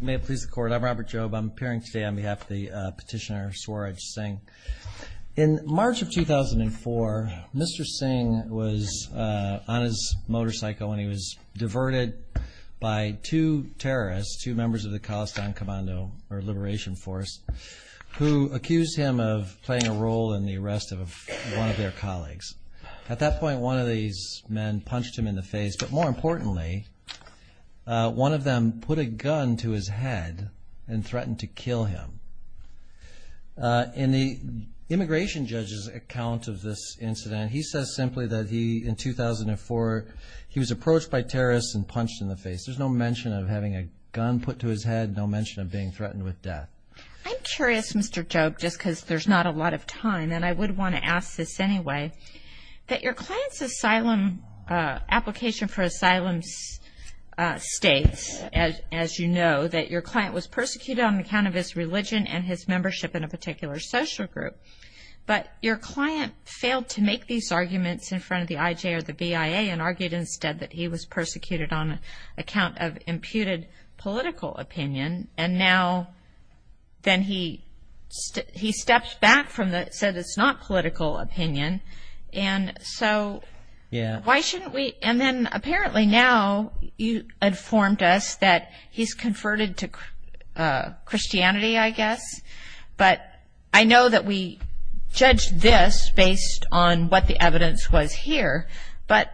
May it please the court. I'm Robert Jobe. I'm appearing today on behalf of the petitioner Swaraj Singh. In March of 2004, Mr. Singh was on his motorcycle and he was diverted by two terrorists, two members of the Khalistan Commando or Liberation Force, who accused him of playing a role in the arrest of one of their colleagues. At that point, one of these men punched him in the face, but more importantly, one of them put a gun to his head and threatened to kill him. In the immigration judge's account of this incident, he says simply that he, in 2004, he was approached by terrorists and punched in the face. There's no mention of having a gun put to his head, no mention of being threatened with death. I'm curious, Mr. Jobe, just because there's not a lot of time, and I would want to ask this anyway, that your client's asylum, application for asylum states, as you know, that your client was persecuted on account of his religion and his membership in a particular social group, but your client failed to make these arguments in front of the IJ or the BIA and argued instead that he was persecuted on account of imputed political opinion, and now then he steps back from that, says it's not political opinion, and so why shouldn't we, and then apparently now you informed us that he's converted to Christianity, I guess, but I know that we judged this based on what the evidence was here, but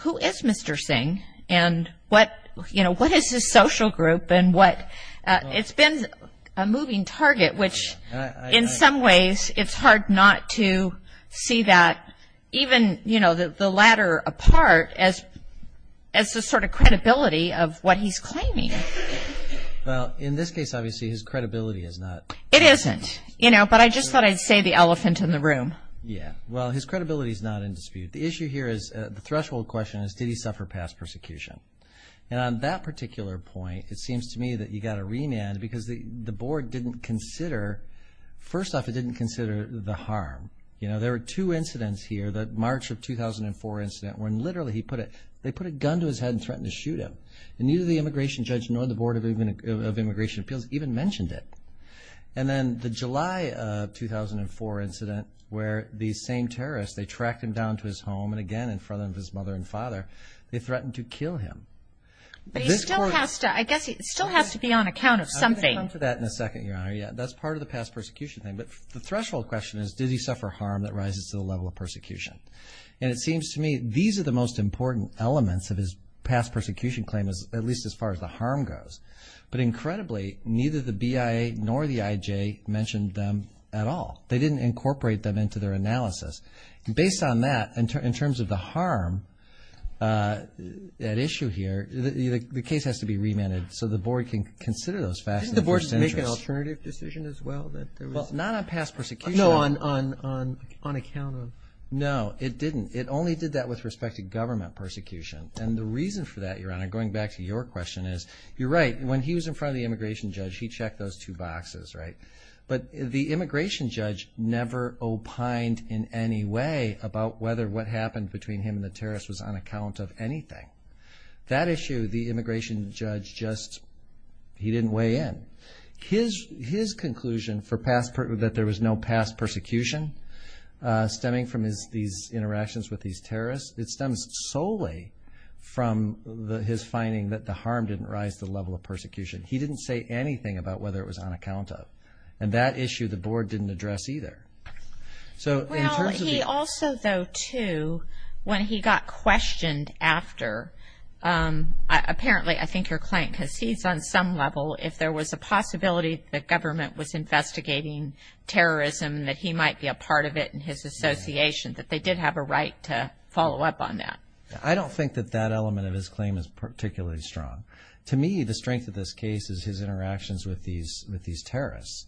who is Mr. Singh, and what, you know, what is his social group, and what, it's been a long time, which in some ways it's hard not to see that, even, you know, the latter apart, as the sort of credibility of what he's claiming. Well, in this case, obviously, his credibility is not... It isn't, you know, but I just thought I'd say the elephant in the room. Yeah, well, his credibility is not in dispute. The issue here is, the threshold question is, did he suffer past persecution? And on that particular point, it seems to me that you got a remand because the board didn't consider, first off, it didn't consider the harm. You know, there were two incidents here, the March of 2004 incident, when literally, he put it, they put a gun to his head and threatened to shoot him, and neither the immigration judge nor the Board of Immigration Appeals even mentioned it, and then the July of 2004 incident, where these same terrorists, they tracked him down to his home, and again in front of his mother and father, they threatened to kill him. But he still has to, I guess, he still has to be on account of something. We'll come to that in a second, Your Honor. Yeah, that's part of the past persecution thing. But the threshold question is, did he suffer harm that rises to the level of persecution? And it seems to me, these are the most important elements of his past persecution claim, at least as far as the harm goes. But incredibly, neither the BIA nor the IJ mentioned them at all. They didn't incorporate them into their analysis. Based on that, in terms of the harm at issue here, the case has to be investigated. Didn't the Board just make an alternative decision as well? Not on past persecution. No, on account. No, it didn't. It only did that with respect to government persecution. And the reason for that, Your Honor, going back to your question, is you're right. When he was in front of the immigration judge, he checked those two boxes, right? But the immigration judge never opined in any way about whether what happened between him and the terrorists was on account of persecution. Again, his conclusion that there was no past persecution stemming from these interactions with these terrorists, it stems solely from his finding that the harm didn't rise to the level of persecution. He didn't say anything about whether it was on account of. And that issue, the Board didn't address either. Well, he also, though, too, when he got questioned after, apparently, I don't think that that element of his claim is particularly strong. To me, the strength of this case is his interactions with these terrorists.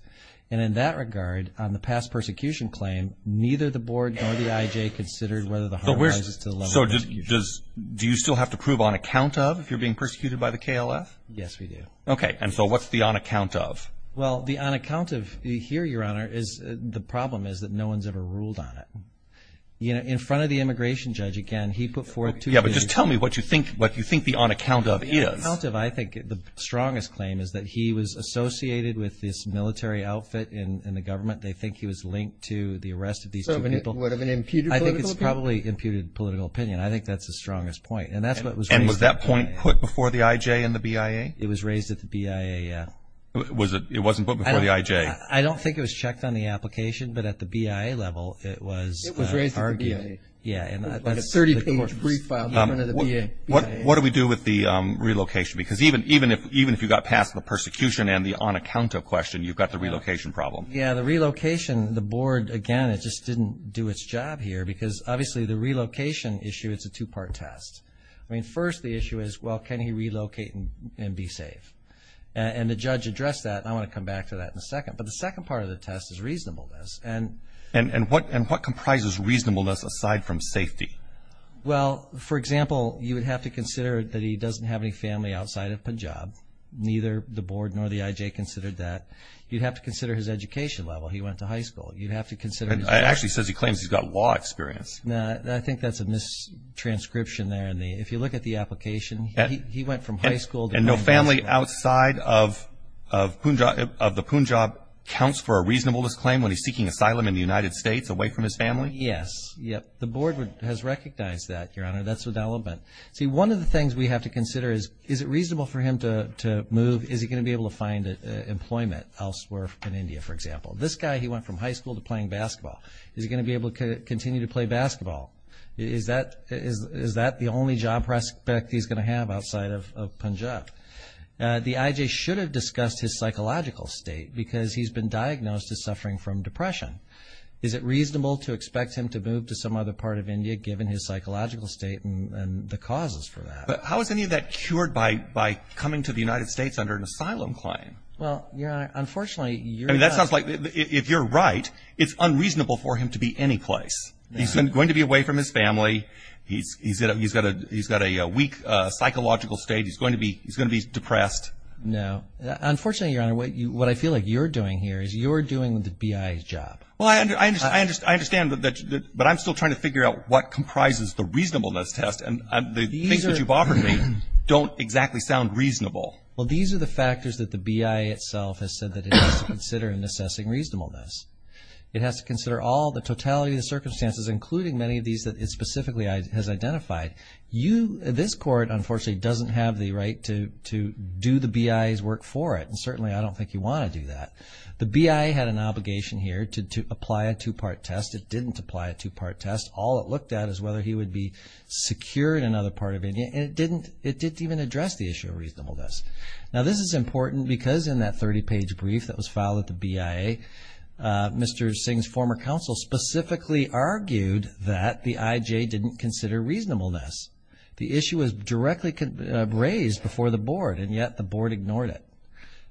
And in that regard, on the past persecution claim, neither the Board nor the IJ considered whether the harm rises to the level of persecution. So, do you still have to prove on account of? Well, the on account of here, Your Honor, is the problem is that no one's ever ruled on it. You know, in front of the immigration judge, again, he put forth two things. Yeah, but just tell me what you think the on account of is. On account of, I think the strongest claim is that he was associated with this military outfit in the government. They think he was linked to the arrest of these two people. So, would it have imputed political opinion? I think it's probably imputed political opinion. I think that's the strongest point. And was that point put before the IJ and the BIA? It was raised at the BIA. Was it, it wasn't put before the IJ? I don't think it was checked on the application, but at the BIA level, it was. It was raised at the BIA. Yeah. Like a 30-page brief file in front of the BIA. What do we do with the relocation? Because even, even if, even if you got past the persecution and the on account of question, you've got the relocation problem. Yeah, the relocation, the Board, again, it just didn't do its job here. Because, obviously, the relocation issue, it's a two-part test. I mean, first, the issue is, well, can he relocate and be safe? And the judge addressed that. I want to come back to that in a second. But the second part of the test is reasonableness. And, and, and what, and what comprises reasonableness aside from safety? Well, for example, you would have to consider that he doesn't have any family outside of Punjab. Neither the Board nor the IJ considered that. You'd have to consider his education level. He went to high school. You'd have to consider. It actually says he claims he's got law experience. Now, I think that's a mistranscription there. And the, if you look at the application, he went from high school. And no family outside of, of Punjab, of the Punjab counts for a reasonableness claim when he's seeking asylum in the United States away from his family? Yes, yep. The Board has recognized that, Your Honor. That's the development. See, one of the things we have to consider is, is it reasonable for him to move? Is he going to be able to find employment elsewhere in India, for example? This guy, he went from high school to playing basketball. Is he going to be able to continue to play basketball? Is that, is that the only job prospect he's going to have outside of Punjab? The IJ should have discussed his psychological state because he's been diagnosed as suffering from depression. Is it reasonable to expect him to move to some other part of India, given his psychological state and the causes for that? But how is any of that cured by, by coming to the United States under an asylum claim? Well, Your Honor, unfortunately, you're not. I mean, that sounds like, if you're right, it's unreasonable for him to be anyplace. He's going to be away from his family. He's, he's, he's got a, he's got a weak psychological state. He's going to be, he's going to be depressed. No, unfortunately, Your Honor, what you, what I feel like you're doing here is you're doing the BI's job. Well, I understand, I understand, I understand that, that, but I'm still trying to figure out what comprises the reasonableness test and the things that you've offered me don't exactly sound reasonable. Well, these are the factors that the BI itself has said that it has to consider in assessing reasonableness. It has to consider all the totality of the circumstances, including many of these that it specifically has identified. You, this Court, unfortunately, doesn't have the right to, to do the BI's work for it, and certainly I don't think you want to do that. The BI had an obligation here to apply a two-part test. It didn't apply a two-part test. All it looked at is whether he would be secure in another part of India, and it didn't, it didn't even address the issue of reasonableness. Now, this is important because in that 30-page brief that was filed at the BIA, Mr. Singh's former counsel specifically argued that the IJ didn't consider reasonableness. The issue was directly raised before the Board, and yet the Board ignored it.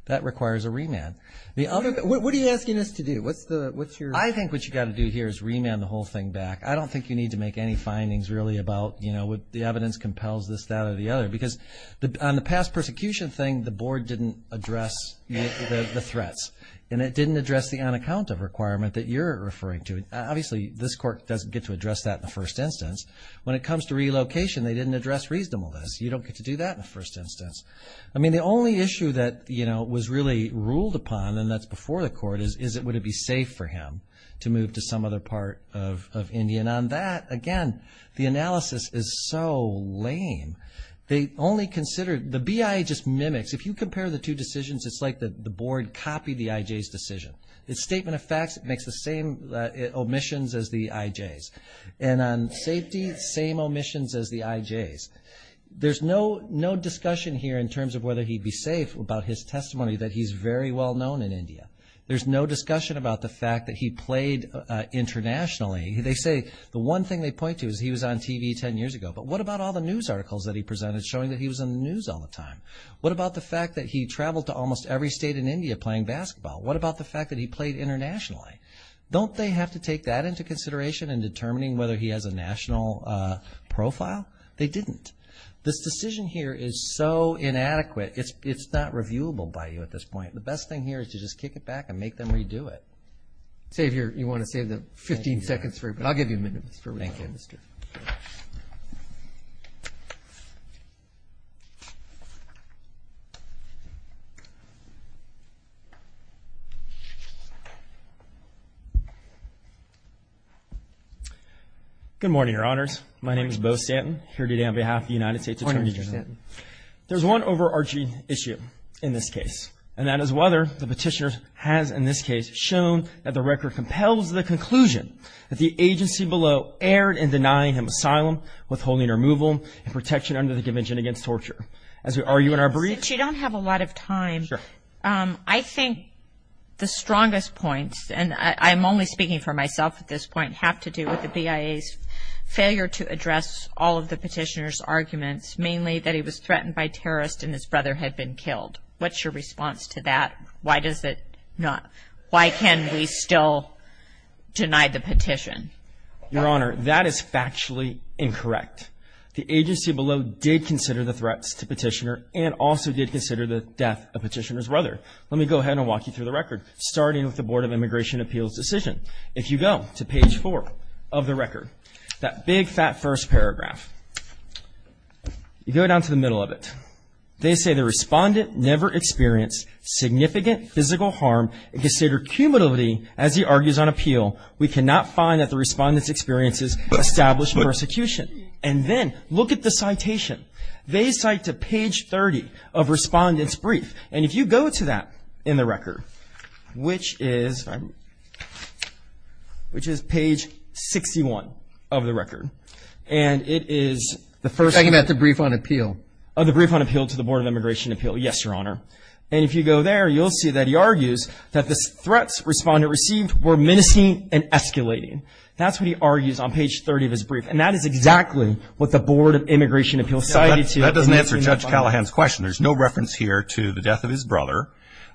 That requires a remand. The other... What are you asking us to do? What's the, what's your... I think what you've got to do here is remand the whole thing back. I don't think you need to make any findings, really, about, you know, what the evidence compels this, that, or the other, because on the past persecution thing, the Board didn't address the threats, and it didn't address the on-account of requirement that you're referring to. Obviously, this Court doesn't get to address that in the first instance. When it comes to relocation, they didn't address reasonableness. You don't get to do that in the first instance. I mean, the only issue that, you know, was really ruled upon, and that's before the Court, is, is it would it be safe for him to move to some other part of India? And on that, again, the analysis is so lame. They only considered... The BIA just mimics. If you compare the two decisions, it's like the Board copied the IJ's decision. Its statement of facts makes the same omissions as the IJ's. And on safety, same omissions as the IJ's. There's no, no discussion here in terms of whether he'd be safe about his testimony that he's very well known in India. There's no discussion about the fact that he played internationally. They say the one thing they point to is he was on TV 10 years ago, but what about all the news articles that he presented showing that he was in the news all the time? What about the fact that he traveled to almost every state in India playing basketball? What about the fact that he played internationally? Don't they have to take that into consideration in determining whether he has a national profile? They didn't. This decision here is so inadequate, it's, it's not reviewable by you at this point. The best thing here is to just kick it back and make them redo it. Save your, you want to save the 15 seconds for it, but I'll give you a minute, Mr. Thank you. Good morning, Your Honors. My name is Bo Stanton, here today on behalf of the United States Attorney General. There's one overarching issue in this case, and that is whether the petitioner has, in this case, shown that the record compels the conclusion that the agency below erred in denying him asylum, withholding removal, and protection under the Convention Against Torture. As we argue in our briefs... Since you don't have a lot of time, I think the strongest points, and I'm only speaking for myself at this point, have to do with the BIA's failure to address all of the petitioner's arguments, mainly that he was threatened by terrorists and his brother had been killed. What's your response to that? Why does it not, why can we still deny the petition? Your Honor, that is factually incorrect. The agency below did consider the threats to petitioner and also did consider the death of petitioner's brother. Let me go ahead and walk you through the record, starting with the Board of Immigration Appeals decision. If you go to page four of the record, that big, fat first paragraph, you go down to the middle of it. They say the respondent never experienced significant physical harm and considered cumulatively, as he argues on appeal, we cannot find that the respondent's experiences established persecution. And then, look at the citation. They cite to page 30 of respondent's brief. And if you go to that in the record, which is page 61 of the record, and it is the first... I'm talking about the brief on appeal. Oh, the brief on appeal to the Board of Immigration Appeal. Yes, Your Honor. And if you go there, you'll see that he argues that the threats respondent received were menacing and escalating. That's what he argues on page 30 of his brief. And that is exactly what the Board of Immigration Appeals cited to... That doesn't answer Judge Callahan's question. There's no reference here to the death of his brother.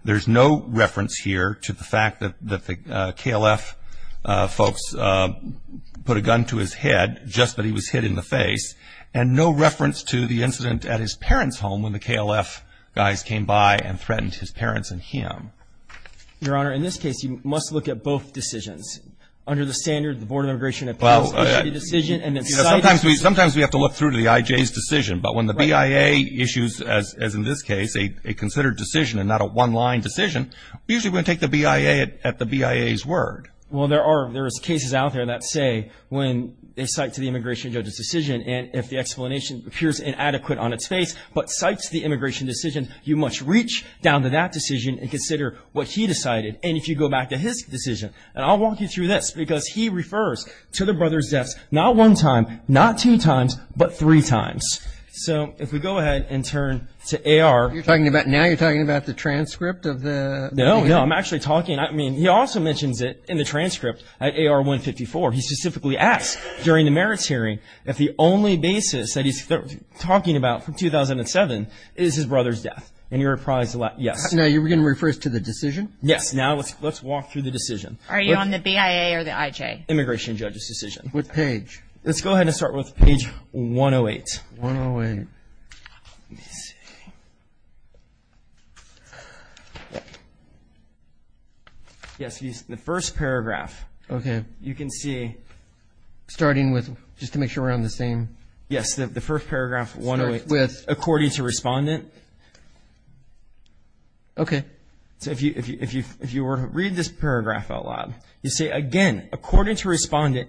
There's no reference here to the fact that the KLF folks put a gun to his head just that he was hit in the face. And no reference to the incident at his parents' home when the KLF guys came by and threatened his parents and him. Your Honor, in this case, you must look at both decisions. Under the standard, the Board of Immigration Appeals issued a decision and then cited... Sometimes we have to look through to the IJ's decision. But when the BIA issues, as in this case, a considered decision and not a one-line decision, we usually take the BIA at the BIA's word. Well, there is cases out there that say when they cite to the immigration judge's decision and if the explanation appears inadequate on its face but cites the immigration decision, you must reach down to that decision and consider what he decided. And if you go back to his decision... And I'll walk you through this because he refers to the brother's deaths not one time, not two times, but three times. So if we go ahead and turn to AR... You're talking about... Now you're talking about the transcript of the... No, no. I'm actually talking... I mean, he also mentions it in the transcript at AR 154. He specifically asks during the merits hearing if the only basis that he's talking about from 2007 is his brother's death. And you're apprised of that. Yes. Now, you're going to refer us to the decision? Yes. Now, let's walk through the decision. Are you on the BIA or the IJ? Immigration judge's decision. What page? Let's go ahead and start with page 108. 108. Let me see. Yes, the first paragraph, you can see... Starting with... Just to make sure we're on the same... Yes, the first paragraph, 108, according to respondent. Okay. So if you were to read this paragraph out loud, you say, again, according to So the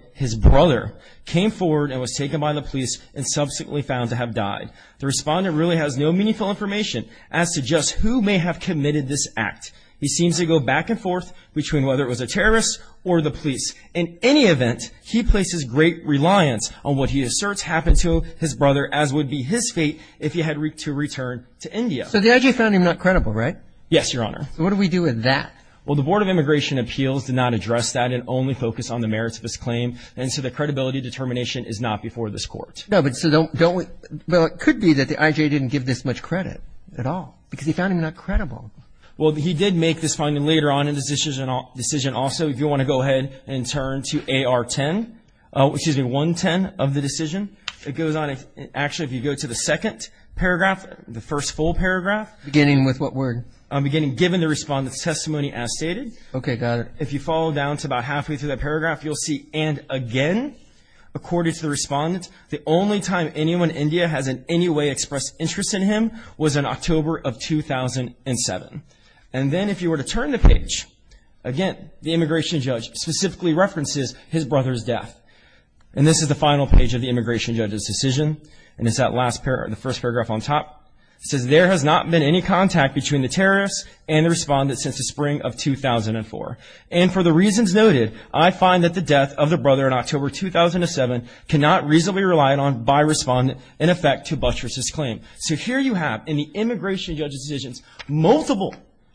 IJ found him not credible, right? Yes, Your Honor. So what do we do with that? Well, the Board of Immigration Appeals did not address that and only focused on the merits of his claim, and so the credibility determination is not before this court. No, but so don't we... Well, it could be that the IJ didn't give this much credit at all, because he found him not credible. Well, he did make this finding later on in his decision also. If you want to go ahead and turn to AR-10, excuse me, 110 of the decision, it goes on. Actually, if you go to the second paragraph, the first full paragraph... Beginning with what word? Beginning, given the respondent's testimony as stated. Okay, got it. If you follow down to about halfway through that paragraph, you'll see, And again, according to the respondent, the only time anyone in India has in any way expressed interest in him was in October of 2007. And then if you were to turn the page, again, the immigration judge specifically references his brother's death. And this is the final page of the immigration judge's decision, and it's that last paragraph, the first paragraph on top. It says, There has not been any contact between the terrorist and the respondent since the spring of 2004. And for the reasons noted, I find that the death of the brother in October 2007 cannot reasonably relied on by respondent in effect to buttress his claim. So here you have, in the immigration judge's decisions, multiple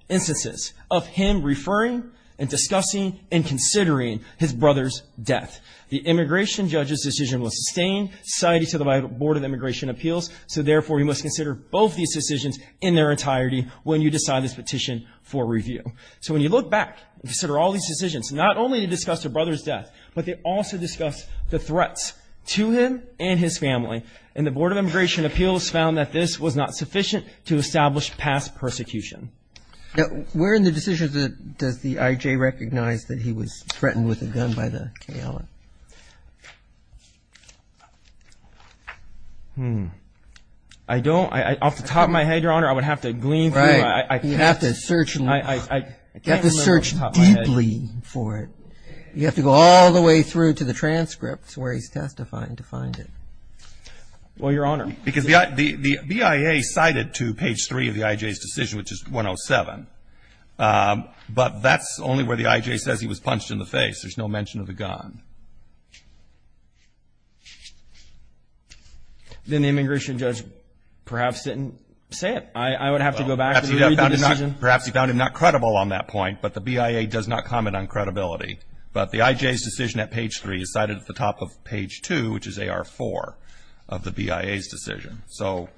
instances of him referring and discussing and considering his brother's death. The immigration judge's decision was sustained, cited to the Board of Immigration Appeals, so therefore you must consider both these decisions in their entirety when you decide this petition for review. So when you look back and consider all these decisions, not only to discuss the brother's death, but they also discuss the threats to him and his family. And the Board of Immigration Appeals found that this was not sufficient to establish past persecution. Where in the decision does the I.J. recognize that he was threatened with a gun by the KLA? I don't. Off the top of my head, Your Honor, I would have to glean through. Right. You have to search deeply for it. You have to go all the way through to the transcripts where he's testifying to find it. Well, Your Honor, because the BIA cited to page three of the I.J.'s decision, which is 107, but that's only where the I.J. says he was punched in the face. There's no mention of the gun. Then the immigration judge perhaps didn't say it. I would have to go back and read the decision. Perhaps he found him not credible on that point, but the BIA does not comment on credibility. But the I.J.'s decision at page three is cited at the top of page two, which is AR4, of the BIA's decision. So,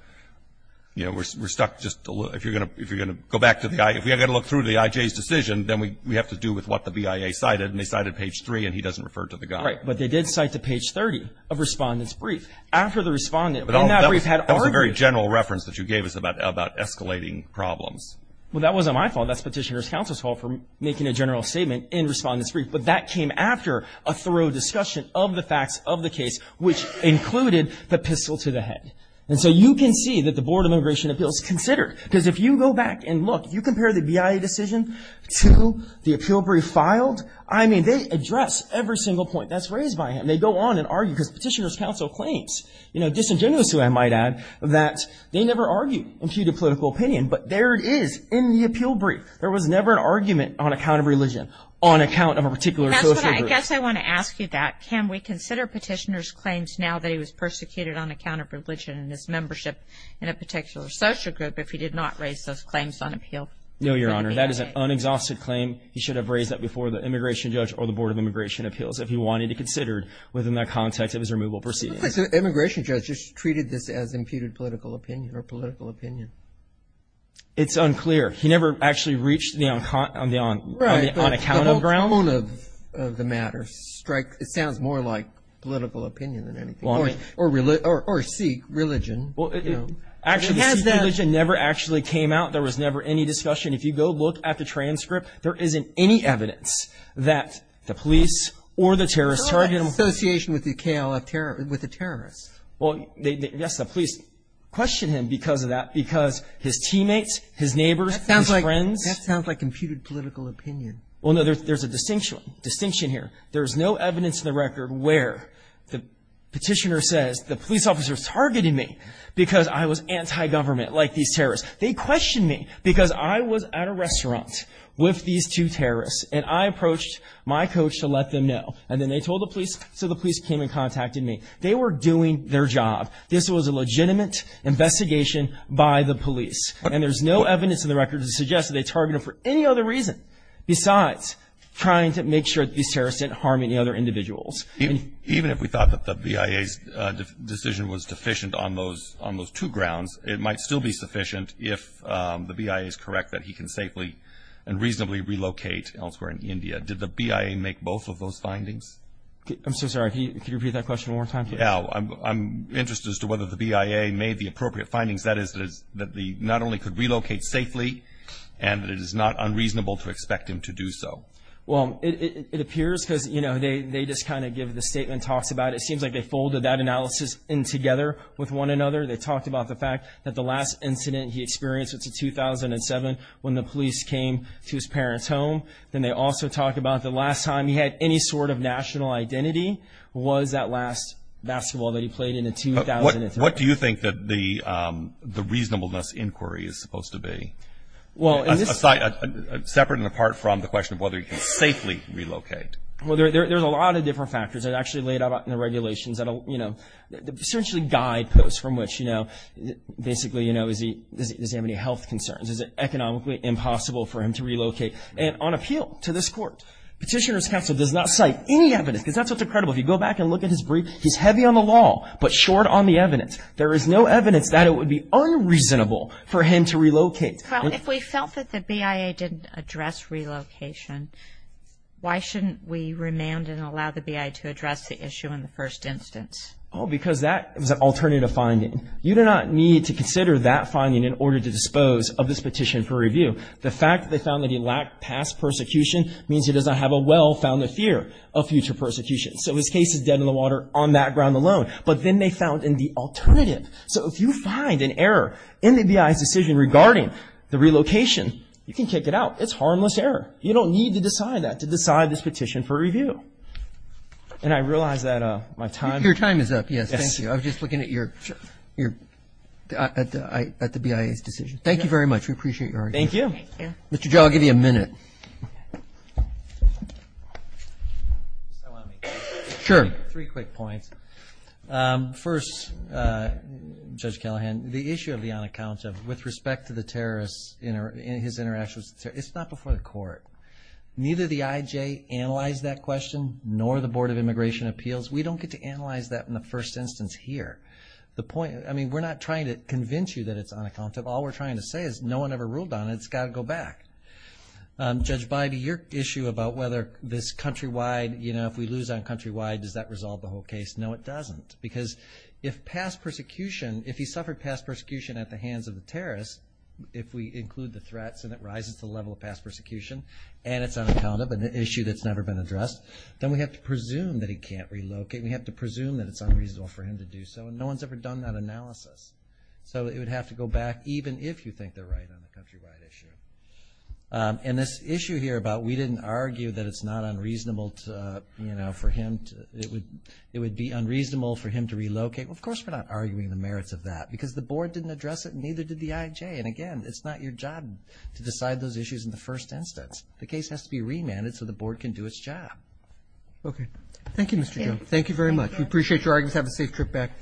you know, we're stuck just a little. If you're going to go back to the I.J. If we're going to look through the I.J.'s decision, then we have to do with what the BIA cited, and they cited page three, and he doesn't refer to the gun. Right. But they did cite to page 30 of Respondent's Brief. After the Respondent in that brief had argued. That was a very general reference that you gave us about escalating problems. Well, that wasn't my fault. That's Petitioner's Counsel's fault for making a general statement in Respondent's Brief. But that came after a thorough discussion of the facts of the case, which included the pistol to the head. And so you can see that the Board of Immigration Appeals considered. Because if you go back and look, if you compare the BIA decision to the appeal brief filed, I mean, they address every single point that's raised by him. They go on and argue because Petitioner's Counsel claims, you know, disingenuously, I might add, that they never argued imputed political opinion. But there it is in the appeal brief. There was never an argument on account of religion, on account of a particular social group. I guess I want to ask you that. Can we consider Petitioner's claims now that he was persecuted on account of religion and his membership in a particular social group if he did not raise those claims on appeal? No, Your Honor. That is an unexhausted claim. He should have raised that before the Immigration Judge or the Board of Immigration Appeals if he wanted it considered within the context of his removal proceedings. So the Immigration Judge just treated this as imputed political opinion or political opinion. It's unclear. He never actually reached on account of ground. The tone of the matter sounds more like political opinion than anything. Or Sikh religion. Actually, Sikh religion never actually came out. There was never any discussion. If you go look at the transcript, there isn't any evidence that the police or the terrorists targeted him. There's no association with the terrorists. Well, yes, the police questioned him because of that, because his teammates, his neighbors, his friends. That sounds like imputed political opinion. Well, no, there's a distinction here. There's no evidence in the record where the petitioner says the police officer targeted me because I was anti-government like these terrorists. They questioned me because I was at a restaurant with these two terrorists, and I approached my coach to let them know, and then they told the police, so the police came and contacted me. They were doing their job. This was a legitimate investigation by the police, and there's no evidence in the record to suggest that they targeted him for any other reason besides trying to make sure that these terrorists didn't harm any other individuals. Even if we thought that the BIA's decision was deficient on those two grounds, it might still be sufficient if the BIA is correct that he can safely and reasonably relocate elsewhere in India. Did the BIA make both of those findings? I'm so sorry, can you repeat that question one more time? No, I'm interested as to whether the BIA made the appropriate findings. That is, that he not only could relocate safely and that it is not unreasonable to expect him to do so. Well, it appears because, you know, they just kind of give the statement talks about it. It seems like they folded that analysis in together with one another. They talked about the fact that the last incident he experienced was in 2007 when the police came to his parents' home. Then they also talk about the last time he had any sort of national identity was that last basketball that he played in in 2003. What do you think that the reasonableness inquiry is supposed to be? Separate and apart from the question of whether he can safely relocate. Well, there's a lot of different factors that are actually laid out in the regulations that essentially guide posts from which, basically, does he have any health concerns? Is it economically impossible for him to relocate? And on appeal to this court, Petitioner's Counsel does not cite any evidence because that's what's incredible. If you go back and look at his brief, he's heavy on the law but short on the evidence. There is no evidence that it would be unreasonable for him to relocate. If we felt that the BIA didn't address relocation, why shouldn't we remand and allow the BIA to address the issue in the first instance? Oh, because that is an alternative finding. You do not need to consider that finding in order to dispose of this petition for review. The fact that they found that he lacked past persecution means he does not have a well-founded fear of future persecution. So his case is dead in the water on that ground alone. But then they found in the alternative. So if you find an error in the BIA's decision regarding the relocation, you can kick it out. It's harmless error. You don't need to decide that to decide this petition for review. And I realize that my time is up. Your time is up, yes. Thank you. I was just looking at the BIA's decision. Thank you very much. We appreciate your argument. Thank you. Mr. Joe, I'll give you a minute. Just on me. Sure. Three quick points. First, Judge Callahan, the issue of the unaccounted with respect to the terrorists, his interactions with the terrorists, it's not before the court. Neither the IJ analyzed that question nor the Board of Immigration Appeals. We don't get to analyze that in the first instance here. I mean, we're not trying to convince you that it's unaccounted. All we're trying to say is no one ever ruled on it. It's got to go back. Judge Bybee, your issue about whether this countrywide, you know, if we lose on countrywide, does that resolve the whole case? No, it doesn't, because if past persecution, if he suffered past persecution at the hands of the terrorists, if we include the threats and it rises to the level of past persecution and it's unaccounted, an issue that's never been addressed, then we have to presume that he can't relocate and we have to presume that it's unreasonable for him to do so. And no one's ever done that analysis. So it would have to go back, even if you think they're right on the countrywide issue. And this issue here about we didn't argue that it's not unreasonable to, you know, for him to, it would be unreasonable for him to relocate, well, of course we're not arguing the merits of that, because the board didn't address it and neither did the IJ. And, again, it's not your job to decide those issues in the first instance. The case has to be remanded so the board can do its job. Okay. Thank you, Mr. Jones. Thank you very much. We appreciate your arguments. Have a safe trip back. Thank you so much.